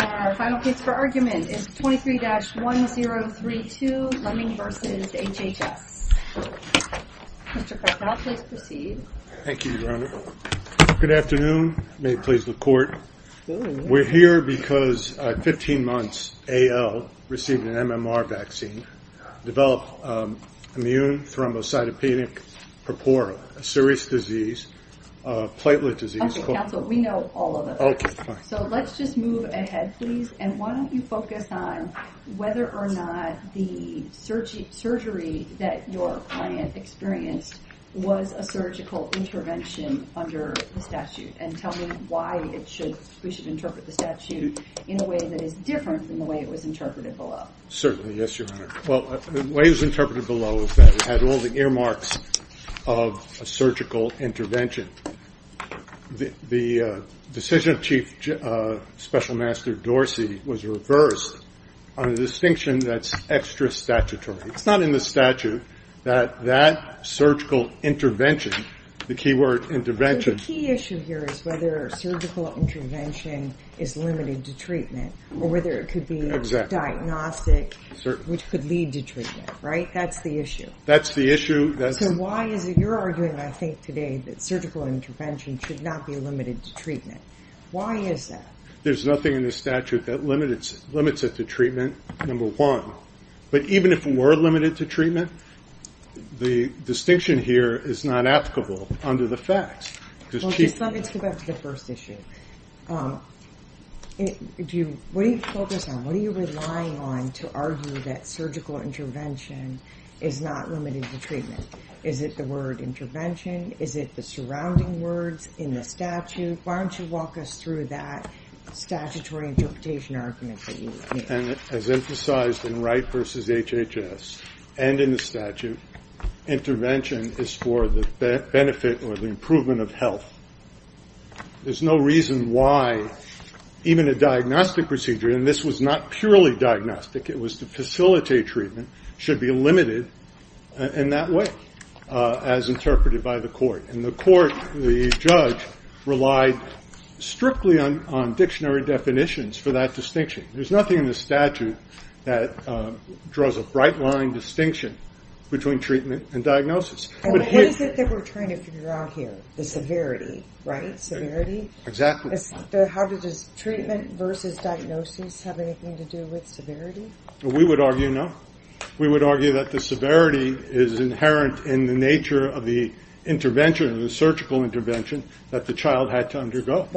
Our final case for argument is 23-1032 Leming v. HHS. Mr. Carpel, please proceed. Thank you, Your Honor. Good afternoon. May it please the Court. We're here because 15 months AL received an MMR vaccine, developed immune thrombocytopenic purpura, a serious disease, platelet disease. Okay, counsel, we know all of it. Okay, fine. So let's just move ahead, please. And why don't you focus on whether or not the surgery that your client experienced was a surgical intervention under the statute and tell me why we should interpret the statute in a way that is different from the way it was interpreted below. Certainly, yes, Your Honor. Well, the way it was interpreted below is that it had all the earmarks of a surgical intervention. The decision of Chief Special Master Dorsey was reversed on a distinction that's extra statutory. It's not in the statute that that surgical intervention, the key word intervention I think the key issue here is whether surgical intervention is limited to treatment or whether it could be diagnostic, which could lead to treatment, right? That's the issue. That's the issue. So why is it you're arguing I think today that surgical intervention should not be limited to treatment. Why is that? There's nothing in the statute that limits it to treatment, number one. But even if we were limited to treatment, the distinction here is not applicable under the facts. Well, just let me go back to the first issue. What are you focused on? What are you relying on to argue that surgical intervention is not limited to treatment? Is it the word intervention? Is it the surrounding words in the statute? Why don't you walk us through that statutory interpretation argument that you made? As emphasized in Wright v. HHS and in the statute, intervention is for the benefit or the improvement of health. There's no reason why even a diagnostic procedure, and this was not purely diagnostic, it was to facilitate treatment, should be limited in that way as interpreted by the court. In the court, the judge relied strictly on dictionary definitions for that distinction. There's nothing in the statute that draws a bright line distinction between treatment and diagnosis. What is it that we're trying to figure out here? The severity, right? Severity? Exactly. How does treatment versus diagnosis have anything to do with severity? We would argue no. We would argue that the severity is inherent in the nature of the intervention, the surgical intervention that the child had to undergo.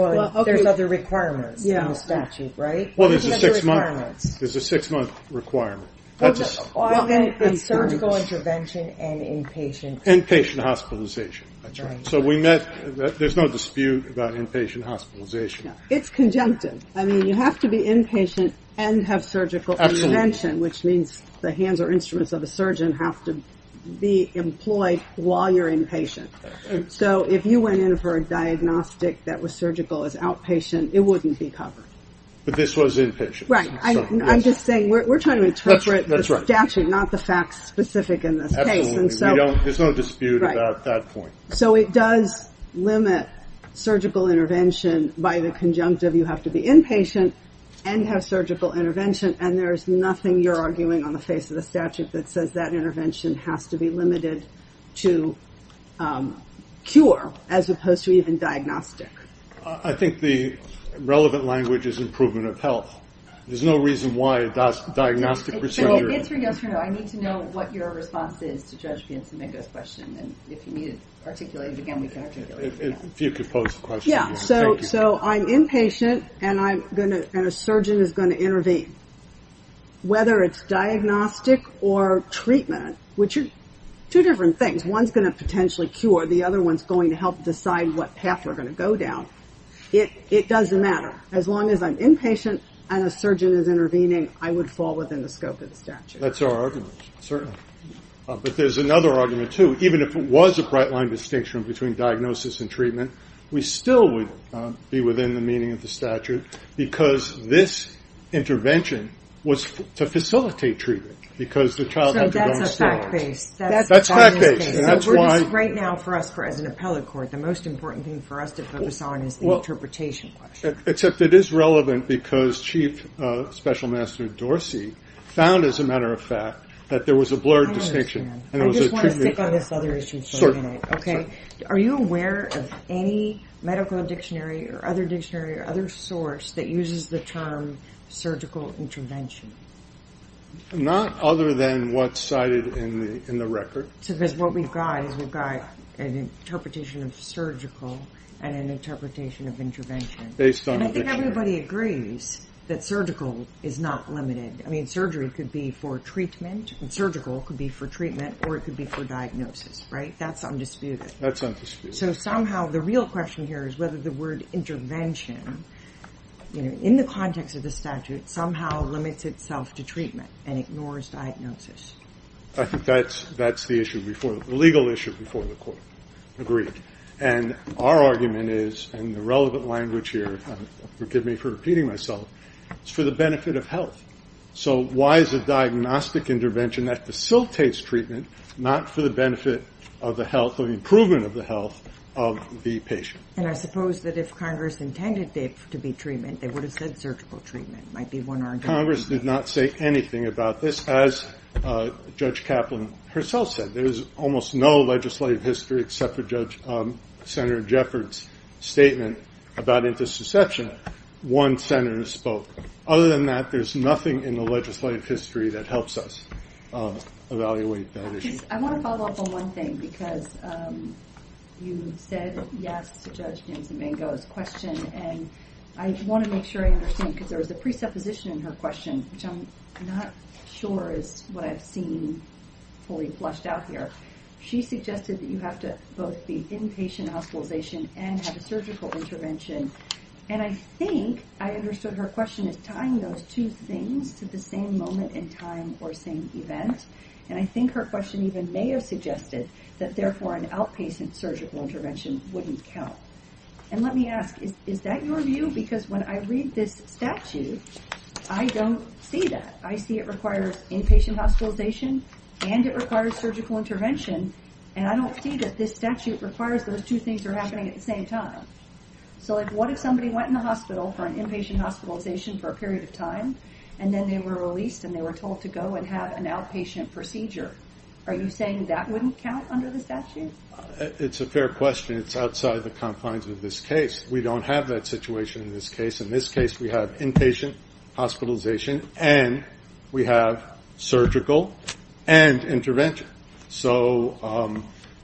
There's other requirements in the statute, right? There's a six-month requirement. Surgical intervention and inpatient. Inpatient hospitalization. There's no dispute about inpatient hospitalization. It's conjunctive. You have to be inpatient and have surgical intervention, which means the hands or instruments of a surgeon have to be employed while you're inpatient. If you went in for a diagnostic that was surgical as outpatient, it wouldn't be covered. But this was inpatient. Right. I'm just saying we're trying to interpret the statute, not the facts specific in this case. Absolutely. There's no dispute about that point. So it does limit surgical intervention by the conjunctive. You have to be inpatient and have surgical intervention, and there's nothing you're arguing on the face of the statute that says that intervention has to be limited to cure as opposed to even diagnostic. I think the relevant language is improvement of health. There's no reason why a diagnostic procedure... It's for yes or no. I need to know what your response is to Judge Piancimigo's question. And if you need to articulate it again, we can articulate it again. If you could pose the question. Yeah. So I'm inpatient and a surgeon is going to intervene. Whether it's diagnostic or treatment, which are two different things. One's going to potentially cure. The other one's going to help decide what path we're going to go down. It doesn't matter. As long as I'm inpatient and a surgeon is intervening, I would fall within the scope of the statute. That's our argument. Certainly. But there's another argument, too. Even if it was a bright line distinction between diagnosis and treatment, we still would be within the meaning of the statute because this intervention was to facilitate treatment. Because the child had to go instead. So that's a fact-based. That's fact-based. Right now, for us as an appellate court, the most important thing for us to focus on is the interpretation question. Except it is relevant because Chief Special Master Dorsey found, as a matter of fact, that there was a blurred distinction. I understand. I just want to stick on this other issue for a minute, okay? Are you aware of any medical dictionary or other dictionary or other source that uses the term surgical intervention? Not other than what's cited in the record. So because what we've got is we've got an interpretation of surgical and an interpretation of intervention. Based on the dictionary. And I think everybody agrees that surgical is not limited. I mean, surgery could be for treatment and surgical could be for treatment or it could be for diagnosis, right? That's undisputed. That's undisputed. So somehow the real question here is whether the word intervention, you know, in the context of the statute, somehow limits itself to treatment and ignores diagnosis. I think that's the issue before, the legal issue before the court. Agreed. And our argument is, and the relevant language here, forgive me for repeating myself, it's for the benefit of health. So why is a diagnostic intervention that facilitates treatment not for the benefit of the health or the improvement of the health of the patient? And I suppose that if Congress intended it to be treatment, they would have said surgical treatment might be one argument. Congress did not say anything about this. As Judge Kaplan herself said, there's almost no legislative history except for Judge, Senator Jeffords' statement about interception. One senator spoke. Other than that, there's nothing in the legislative history that helps us evaluate that issue. I want to follow up on one thing, because you said yes to Judge James Emengo's question. And I want to make sure I understand, because there was a presupposition in her question, which I'm not sure is what I've seen fully flushed out here. She suggested that you have to both be inpatient hospitalization and have a surgical intervention. And I think I understood her question as tying those two things to the same moment in time or same event. And I think her question even may have suggested that therefore an outpatient surgical intervention wouldn't count. And let me ask, is that your view? Because when I read this statute, I don't see that. I see it requires inpatient hospitalization and it requires surgical intervention. And I don't see that this statute requires those two things are happening at the same time. So what if somebody went in the hospital for an inpatient hospitalization for a period of time, and then they were released and they were told to go and have an outpatient procedure? Are you saying that wouldn't count under the statute? It's a fair question. It's outside the confines of this case. We don't have that situation in this case. In this case, we have inpatient hospitalization and we have surgical and intervention. So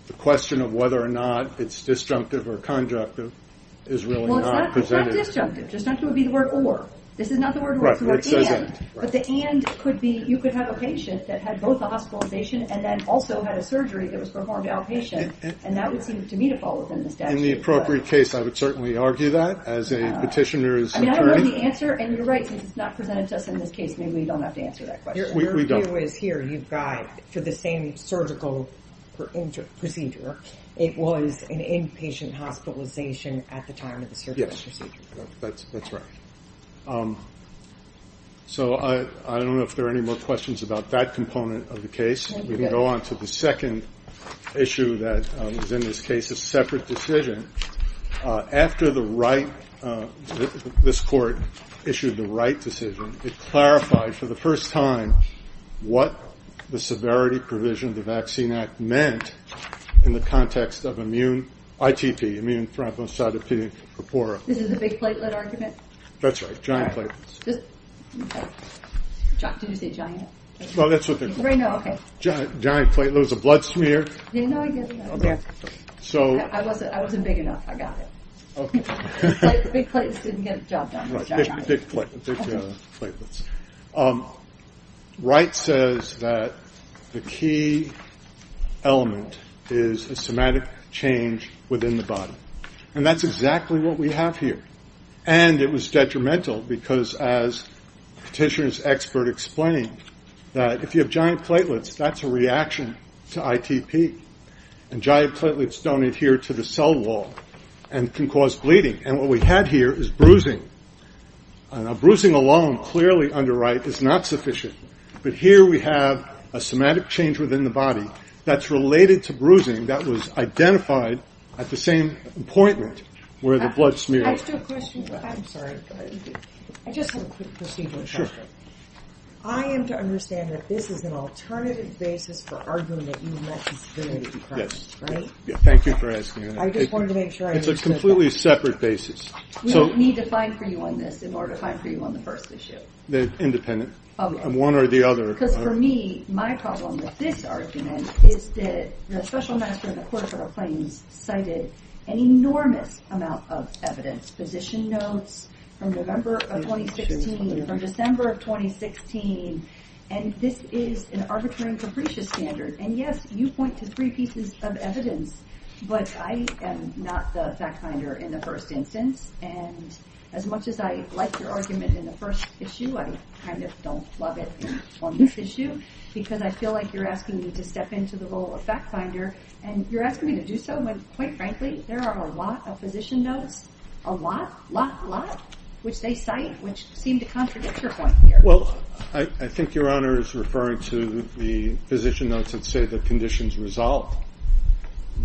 the question of whether or not it's disjunctive or conjunctive is really not presented. Well, it's not disjunctive. Disjunctive would be the word or. This is not the word or, it's the word and. But the and could be you could have a patient that had both the hospitalization and then also had a surgery that was performed outpatient. And that would seem to me to fall within the statute. In the appropriate case, I would certainly argue that as a petitioner's attorney. I mean, I don't know the answer. And you're right, since it's not presented to us in this case, maybe we don't have to answer that question. We don't. Your view is here. You've got, for the same surgical procedure, it was an inpatient hospitalization at the time of the surgical procedure. That's right. So I don't know if there are any more questions about that component of the case. We can go on to the second issue that was in this case, a separate decision. After this court issued the right decision, it clarified for the first time what the severity provision of the Vaccine Act meant in the context of immune ITP, immune thrombocytopenia purpura. This is the big platelet argument? That's right, giant platelets. Did you say giant? Well, that's what they're called. Giant platelets, a blood smear. No, I get it. I wasn't big enough. I got it. OK. The big platelets didn't get the job done. Wright says that the key element is a somatic change within the body. And that's exactly what we have here. And it was detrimental, because as Petitioner's expert explained, that if you have giant platelets, that's a reaction to ITP. And giant platelets don't adhere to the cell wall and can cause bleeding. And what we had here is bruising. And bruising alone, clearly under Wright, is not sufficient. But here we have a somatic change within the body that's related to bruising that was identified at the same appointment where the blood smeared. I just have a question. I'm sorry. I just have a quick procedural question. I am to understand that this is an alternative basis for arguing that you want disability to be present, right? Yes. Thank you for asking that. I just wanted to make sure I understood that. It's a completely separate basis. We need to find for you on this in order to find for you on the first issue. They're independent. Oh, yes. One or the other. Because for me, my problem with this argument is that the special master in the Court of Federal Claims cited an enormous amount of evidence, position notes from November of 2016, from December of 2016. And this is an arbitrary and capricious standard. And yes, you point to three pieces of evidence. But I am not the fact finder in the first instance. And as much as I like your argument in the first issue, I kind of don't love it on this issue. Because I feel like you're asking me to step into the role of fact finder. And you're asking me to do so when, quite frankly, there are a lot of position notes. A lot, lot, lot, which they cite, which seem to contradict your point here. Well, I think Your Honor is referring to the position notes that say the condition's resolved.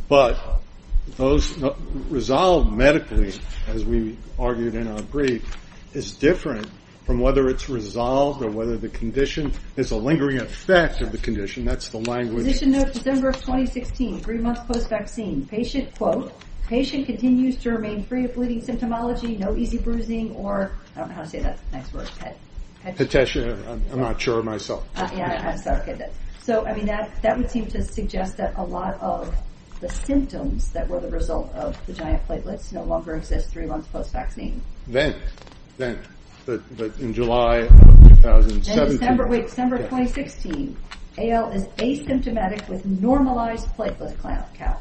But those resolved medically, as we argued in our brief, is different from whether it's resolved or whether the condition is a lingering effect of the condition. That's the language. Position note December of 2016, three months post-vaccine. Patient, quote, patient continues to remain free of bleeding symptomology, no easy bruising, or, I don't know how to say that. Nice word. Petitioner, I'm not sure myself. Yeah, I'm sorry. So I mean, that would seem to suggest that a lot of the symptoms that were the result of the giant platelets no longer exist three months post-vaccine. Then, then, but in July of 2017. In December, wait, December 2016, AL is asymptomatic with normalized platelet count.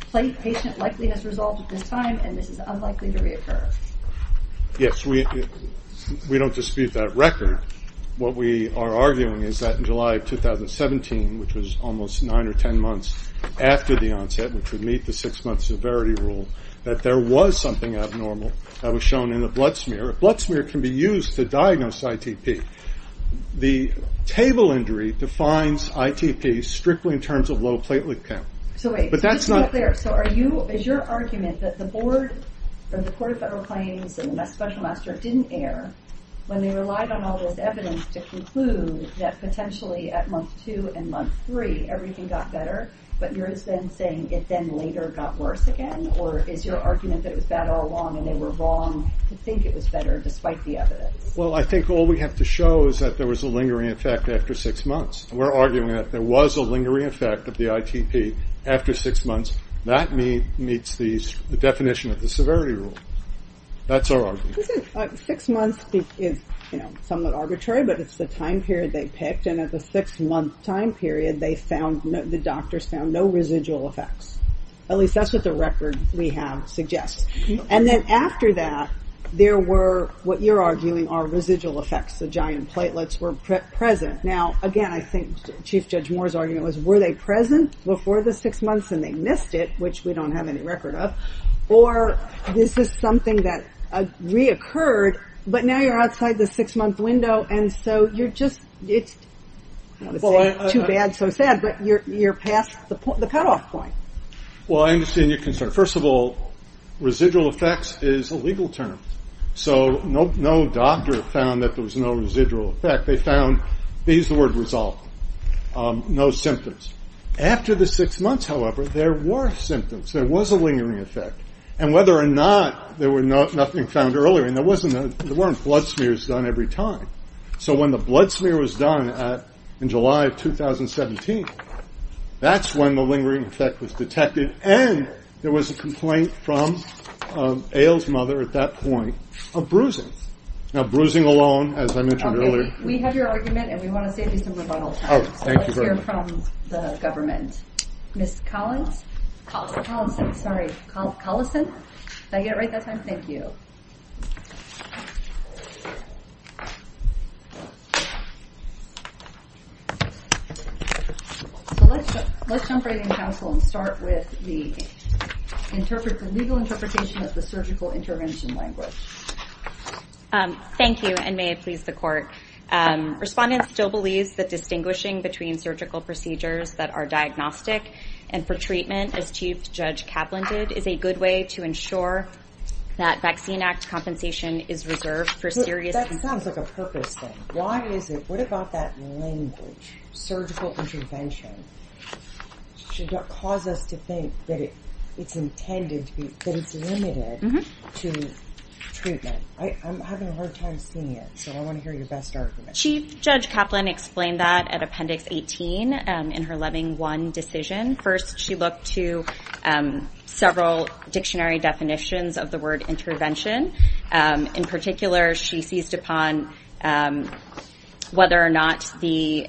Plate patient likeliness resolved at this time, and this is unlikely to reoccur. Yes, we don't dispute that record. What we are arguing is that in July of 2017, which was almost nine or 10 months after the onset, which would meet the six month severity rule, that there was something abnormal that was shown in the blood smear. A blood smear can be used to diagnose ITP. The table injury defines ITP strictly in terms of low platelet count. So wait, just to be clear, so are you, is your argument that the board or the Court of Federal Claims and the special master didn't err when they relied on all this evidence to conclude that potentially at month two and month three everything got better, but you're then saying it then later got worse again? Or is your argument that it was bad all along and they were wrong to think it was better despite the evidence? Well, I think all we have to show is that there was a lingering effect after six months. We're arguing that there was a lingering effect of the ITP after six months. That meets the definition of the severity rule. That's our argument. Isn't it, six months is somewhat arbitrary, but it's the time period they picked and at the six month time period they found, the doctors found no residual effects. At least that's what the record we have suggests. And then after that, there were, what you're arguing are residual effects. The giant platelets were present. Now, again, I think Chief Judge Moore's argument was were they present before the six months and they missed it, which we don't have any record of, or this is something that reoccurred, but now you're outside the six month window and so you're just, it's too bad, so sad, but you're past the cutoff point. Well, I understand your concern. First of all, residual effects is a legal term. So no doctor found that there was no residual effect. They found, they used the word resolved, no symptoms. After the six months, however, there were symptoms. There was a lingering effect. And whether or not there were nothing found earlier, and there weren't blood smears done every time. So when the blood smear was done in July of 2017, that's when the lingering effect was detected and there was a complaint from Ail's mother at that point of bruising. Now, bruising alone, as I mentioned earlier. We have your argument and we want to save you some rebuttal time. So let's hear from the government. Ms. Collison, did I get it right that time? Thank you. So let's jump right in, counsel, and start with the legal interpretation of the surgical intervention language. Thank you and may it please the court. Respondents still believe that distinguishing between surgical procedures that are diagnostic and for treatment, as Chief Judge Kaplan did, is a good way to ensure that Vaccine Act compensation is reserved for serious- That sounds like a purpose thing. Why is it? What about that language? Surgical intervention should not cause us to think that it's intended to be, that it's limited to treatment. I'm having a hard time seeing it. So I want to hear your best argument. Chief Judge Kaplan explained that at Appendix 18 in her Loving One decision. First, she looked to several dictionary definitions of the word intervention. In particular, she seized upon whether or not the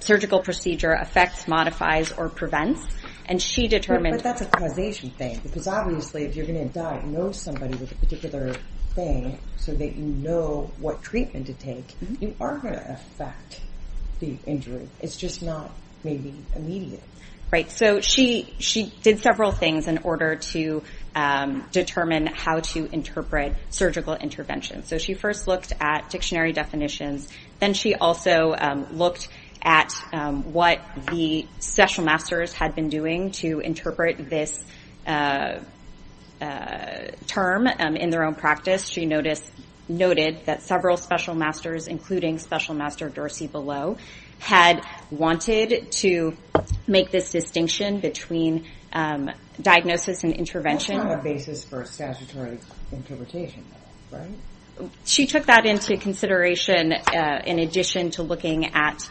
surgical procedure affects, modifies, or prevents. And she determined- But that's a causation thing. Because obviously, if you're going to diagnose somebody with a particular thing so that you know what treatment to take, you are going to affect the injury. It's just not maybe immediate. Right. So she did several things in order to determine how to interpret surgical intervention. So she first looked at dictionary definitions. Then she also looked at what the special masters had been doing to interpret this term in their own practice. She noted that several special masters, including Special Master Dorsey-Below, had wanted to make this distinction between diagnosis and intervention. That's not a basis for a statutory interpretation, right? She took that into consideration in addition to looking at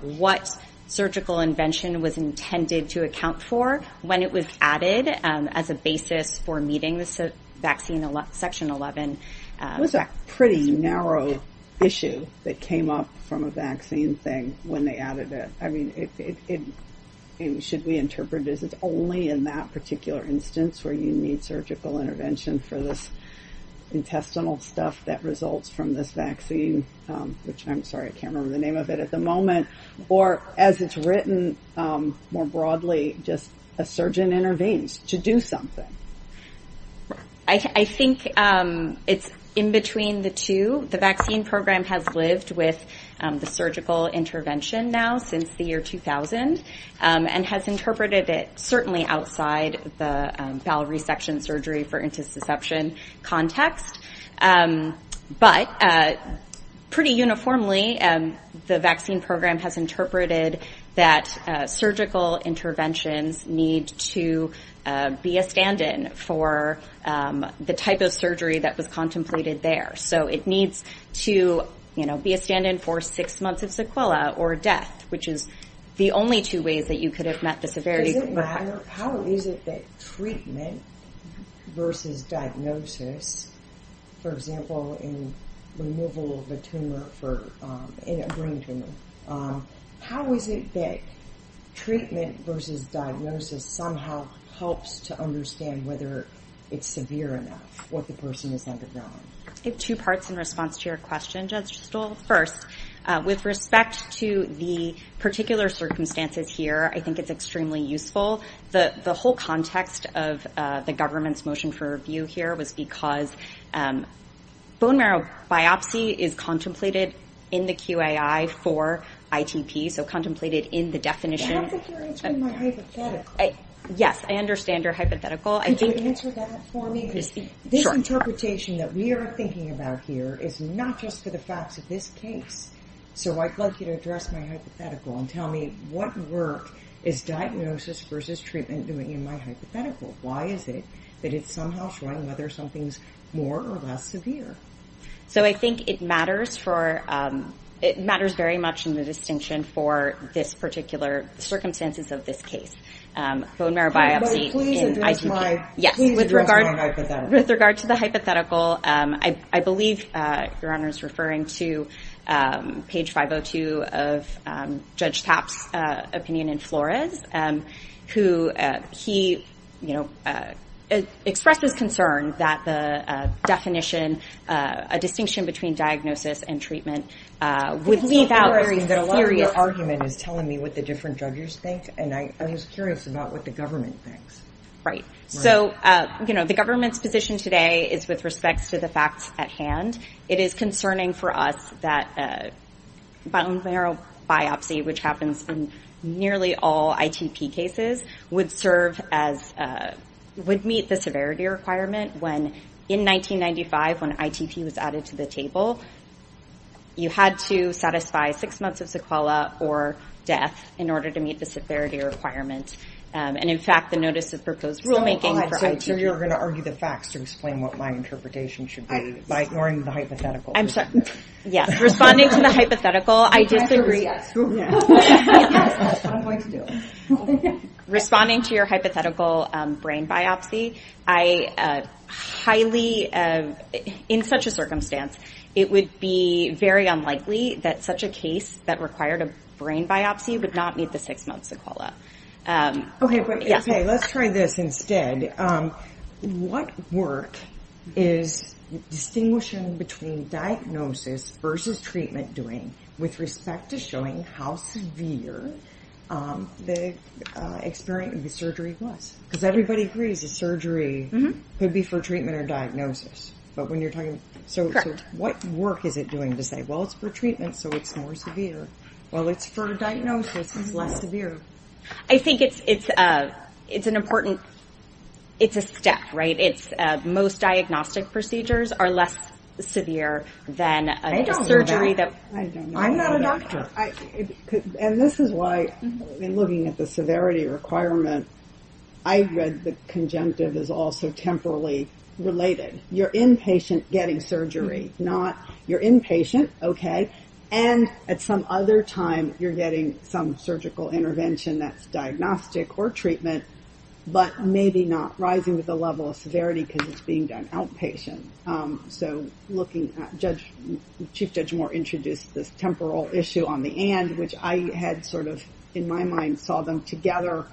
what surgical invention was intended to account for when it was added as a basis for meeting this vaccine, Section 11. It was a pretty narrow issue that came up from a vaccine thing when they added it. I mean, should we interpret this as only in that particular instance where you need surgical intervention for this intestinal stuff that results from this vaccine, which I'm sorry, I can't remember the name of it at the moment, or as it's written more broadly, just a surgeon intervenes to do something. I think it's in between the two. The vaccine program has lived with the surgical intervention now since the year 2000 and has interpreted it certainly outside the bowel resection surgery for intussusception context. But pretty uniformly, the vaccine program has interpreted that surgical interventions need to be a stand-in for the type of surgery that was contemplated there. So it needs to be a stand-in for six months of sequelae or death, which is the only two ways that you could have met the severity. Is it, how is it that treatment versus diagnosis, for example, in removal of a tumor for a brain tumor, how is it that treatment versus diagnosis somehow helps to understand whether it's severe enough, what the person has undergone? I have two parts in response to your question, Judge Stoll. First, with respect to the particular circumstances here, I think it's extremely useful. The whole context of the government's motion for review here was because bone marrow biopsy is contemplated in the QAI for ITP, so contemplated in the definition. I don't think you're answering my hypothetical. Yes, I understand your hypothetical. Could you answer that for me? Because this interpretation that we are thinking about here is not just for the facts of this case. So I'd like you to address my hypothetical and tell me what work is diagnosis versus treatment doing in my hypothetical? Why is it that it's somehow showing whether something's more or less severe? So I think it matters for, it matters very much in the distinction for this particular circumstances of this case. Bone marrow biopsy in ITP. Yes. Please address my hypothetical. With regard to the hypothetical, I believe Your Honor is referring to page 502 of Judge Tapp's opinion in Flores, who he expressed his concern that the definition, a distinction between diagnosis and treatment would leave out. It's not worrying that a lot of your argument is telling me what the different judges think, and I was curious about what the government thinks. Right. So the government's position today is with respects to the facts at hand. It is concerning for us that bone marrow biopsy, which happens in nearly all ITP cases, would serve as, would meet the severity requirement when in 1995, when ITP was added to the table, you had to satisfy six months of sequela or death in order to meet the severity requirement. And in fact, the notice of proposed rulemaking for ITP. So you're going to argue the facts to explain what my interpretation should be by ignoring the hypothetical. I'm sorry. Yes. Responding to the hypothetical, I disagree. I agree, yes. That's what I'm going to do. Responding to your hypothetical brain biopsy, I highly, in such a circumstance, it would be very unlikely that such a case that required a brain biopsy would not meet the six months of sequela. Okay. Let's try this instead. What work is distinguishing between diagnosis versus treatment doing with respect to showing how severe the experience of the surgery was? Because everybody agrees that surgery could be for treatment or diagnosis. But when you're talking, so what work is it doing to say, well, it's for treatment, so it's more severe. Well, it's for diagnosis, it's less severe. I think it's an important, it's a step, right? It's most diagnostic procedures are less severe than a surgery that- I don't know that. I'm not a doctor. And this is why, in looking at the severity requirement, I read the conjunctive is also temporally related. You're inpatient getting surgery, not you're inpatient, okay? And at some other time, you're getting some surgical intervention that's diagnostic or treatment, but maybe not rising with the level of severity because it's being done outpatient. So looking at Judge, Chief Judge Moore introduced this temporal issue on the end, which I had sort of, in my mind, saw them together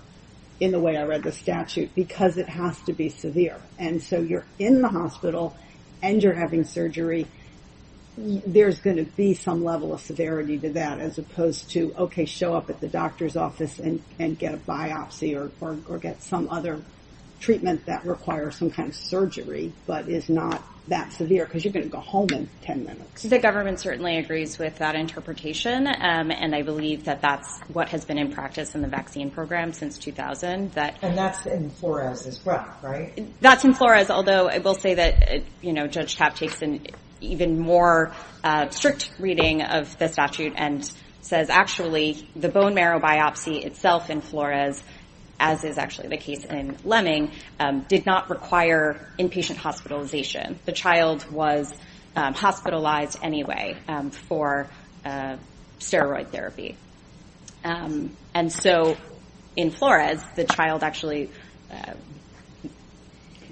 in the way I read the statute because it has to be severe. And so you're in the hospital and you're having surgery. There's going to be some level of severity to that as opposed to, okay, show up at the doctor's office and get a biopsy or get some other treatment that requires some kind of surgery, but is not that severe because you're going to go home in 10 minutes. The government certainly agrees with that interpretation. And I believe that that's what has been in practice in the vaccine program since 2000. And that's in Flores as well, right? That's in Flores. Although I will say that Judge Tapp takes an even more strict reading of the statute and says, actually, the bone marrow biopsy itself in Flores, as is actually the case in Lemming, did not require inpatient hospitalization. The child was hospitalized anyway for steroid therapy. And so in Flores, the child actually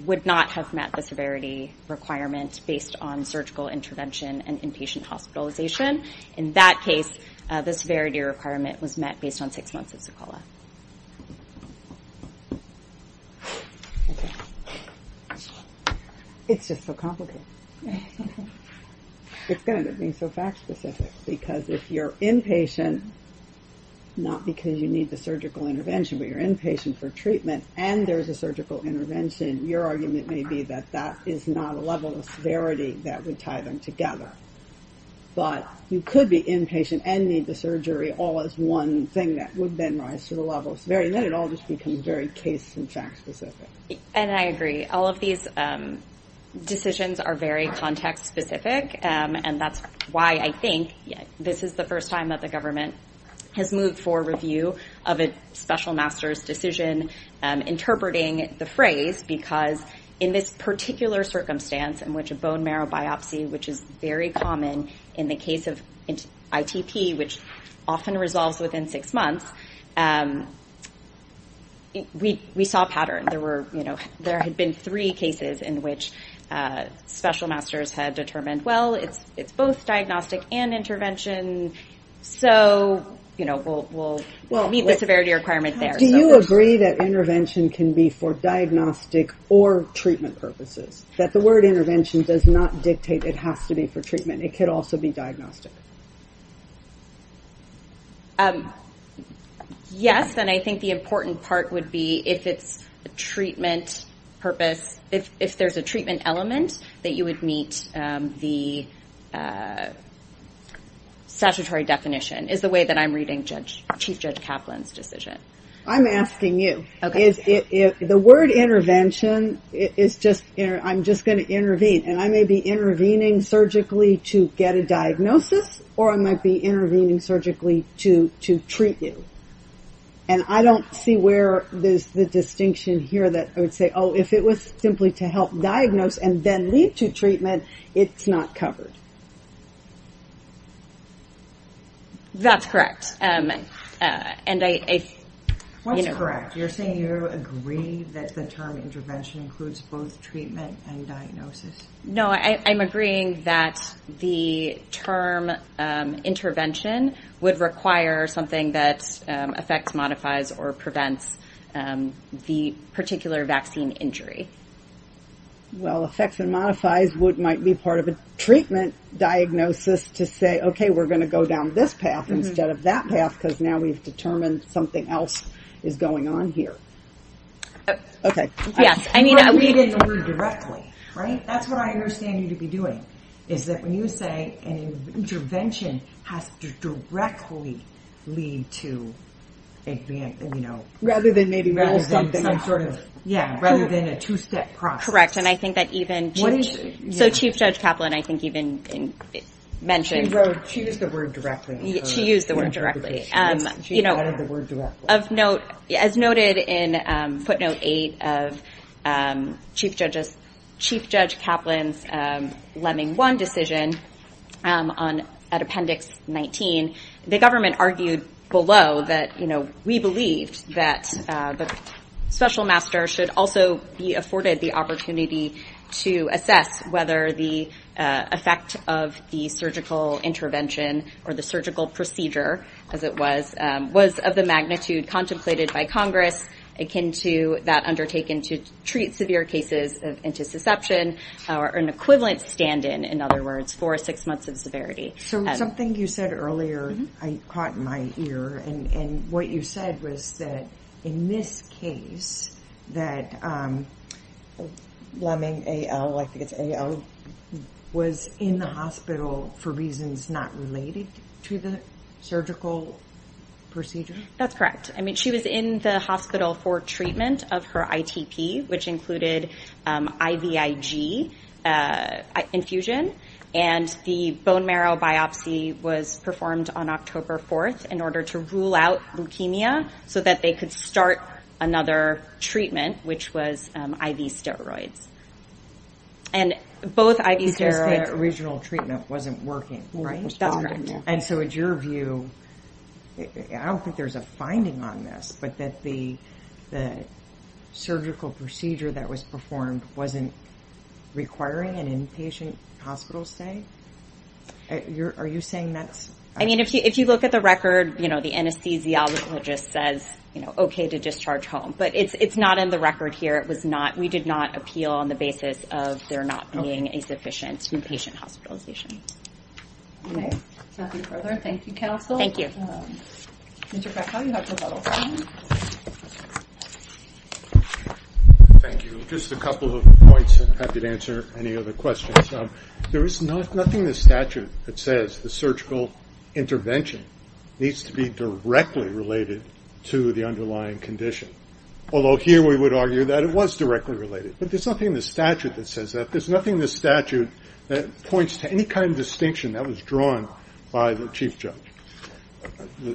would not have met the severity requirement based on surgical intervention and inpatient hospitalization. In that case, the severity requirement was met based on six months of Zikola. Okay. It's just so complicated. It's good that it's so fact-specific because if you're inpatient, not because you need the surgical intervention, but you're inpatient for treatment and there's a surgical intervention, your argument may be that that is not a level of severity that would tie them together. But you could be inpatient and need the surgery all as one thing that would then rise to the level of severity. And then it all just becomes very case- and fact-specific. And I agree. All of these decisions are very context-specific. And that's why I think this is the first time that the government has moved for review of a special master's decision interpreting the phrase because in this particular circumstance in which a bone marrow biopsy, which is very common in the case of ITP, which often resolves within six months, we saw a pattern. There had been three cases in which special masters had determined, well, it's both diagnostic and intervention. So we'll meet the severity requirement there. Do you agree that intervention can be for diagnostic or treatment purposes? That the word intervention does not dictate it has to be for treatment. It could also be diagnostic. Yes, and I think the important part would be if it's a treatment purpose, if there's a treatment element that you would meet the statutory definition is the way that I'm reading Chief Judge Kaplan's decision. I'm asking you. The word intervention is just, I'm just going to intervene and I may be intervening surgically to get a diagnosis or I might be intervening surgically to treat you. And I don't see where there's the distinction here that I would say, oh, if it was simply to help diagnose and then lead to treatment, it's not covered. That's correct. You're saying you agree that the term intervention includes both treatment and diagnosis? No, I'm agreeing that the term intervention would require something that affects, modifies or prevents the particular vaccine injury. Well, effects and modifies would might be part of a treatment diagnosis to say, okay, we're going to go down this path instead of that path. Because now we've determined something else is going on here. Okay. Yes, I mean, You're not reading the word directly, right? That's what I understand you to be doing is that when you say an intervention has to directly lead to, you know, rather than maybe something I'm sort of, yeah, rather than a two-step process. Correct. And I think that even, so Chief Judge Kaplan, I think even mentioned, She used the word directly. She used the word directly. As noted in footnote eight of Chief Judge Kaplan's lemming one decision at appendix 19, the government argued below that, you know, we believed that the special master should also be afforded the opportunity to assess whether the effect of the surgical intervention or the surgical procedure, as it was, was of the magnitude contemplated by Congress, akin to that undertaken to treat severe cases of antisusception or an equivalent stand-in, in other words, for six months of severity. So something you said earlier, I caught in my ear. And what you said was that in this case, that lemming AL, I think it's AL, was in the hospital for reasons not related to the surgical procedure. That's correct. I mean, she was in the hospital for treatment of her ITP, which included IVIG infusion. And the bone marrow biopsy was performed on October 4th in order to rule out leukemia so that they could start another treatment, which was IV steroids. And both IV steroids- Because the original treatment wasn't working, right? That's correct. And so it's your view, I don't think there's a finding on this, but that the surgical procedure that was performed wasn't requiring an inpatient hospital stay? Are you saying that's- I mean, if you look at the record, you know, the anesthesiologist says, you know, okay to discharge home, but it's not in the record here. It was not, we did not appeal on the basis of there not being a sufficient inpatient hospitalization. Okay. Without any further, thank you, counsel. Thank you. Mr. Freckle, you have a follow-up question? Thank you. Just a couple of points, and I'm happy to answer any other questions. There is nothing in the statute that says the surgical intervention needs to be directly related to the underlying condition. Although here we would argue that it was directly related, but there's nothing in the statute that says that. There's nothing in the statute that points to any kind of distinction that was drawn by the chief judge.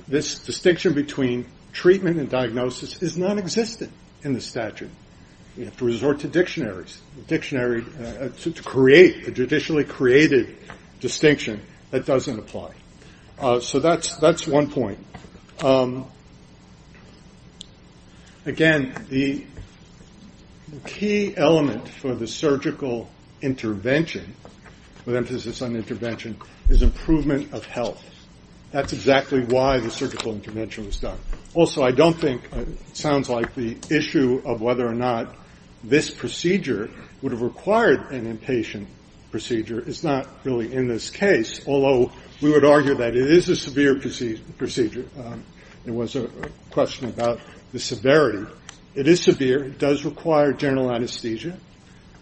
This distinction between treatment and diagnosis is non-existent in the statute. We have to resort to dictionaries, dictionary to create a judicially created distinction that doesn't apply. So that's one point. Again, the key element for the surgical intervention, with emphasis on intervention, is improvement of health. That's exactly why the surgical intervention was done. Also, I don't think it sounds like the issue of whether or not this procedure would have required an inpatient procedure is not really in this case, although we would argue that it is a severe procedure. There was a question about the severity. It is severe. It does require general anesthesia.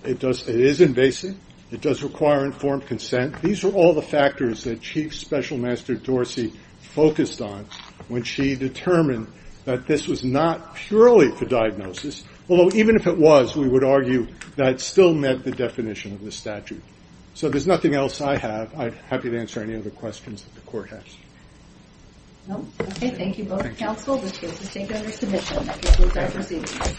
It is invasive. It does require informed consent. These are all the factors that Chief Special Master Dorsey focused on when she determined that this was not purely for diagnosis, although even if it was, we would argue that it still met the definition of the statute. So there's nothing else I have. I'm happy to answer any other questions that the court has. Okay, thank you, Board of Counsel. This case is taken under submission.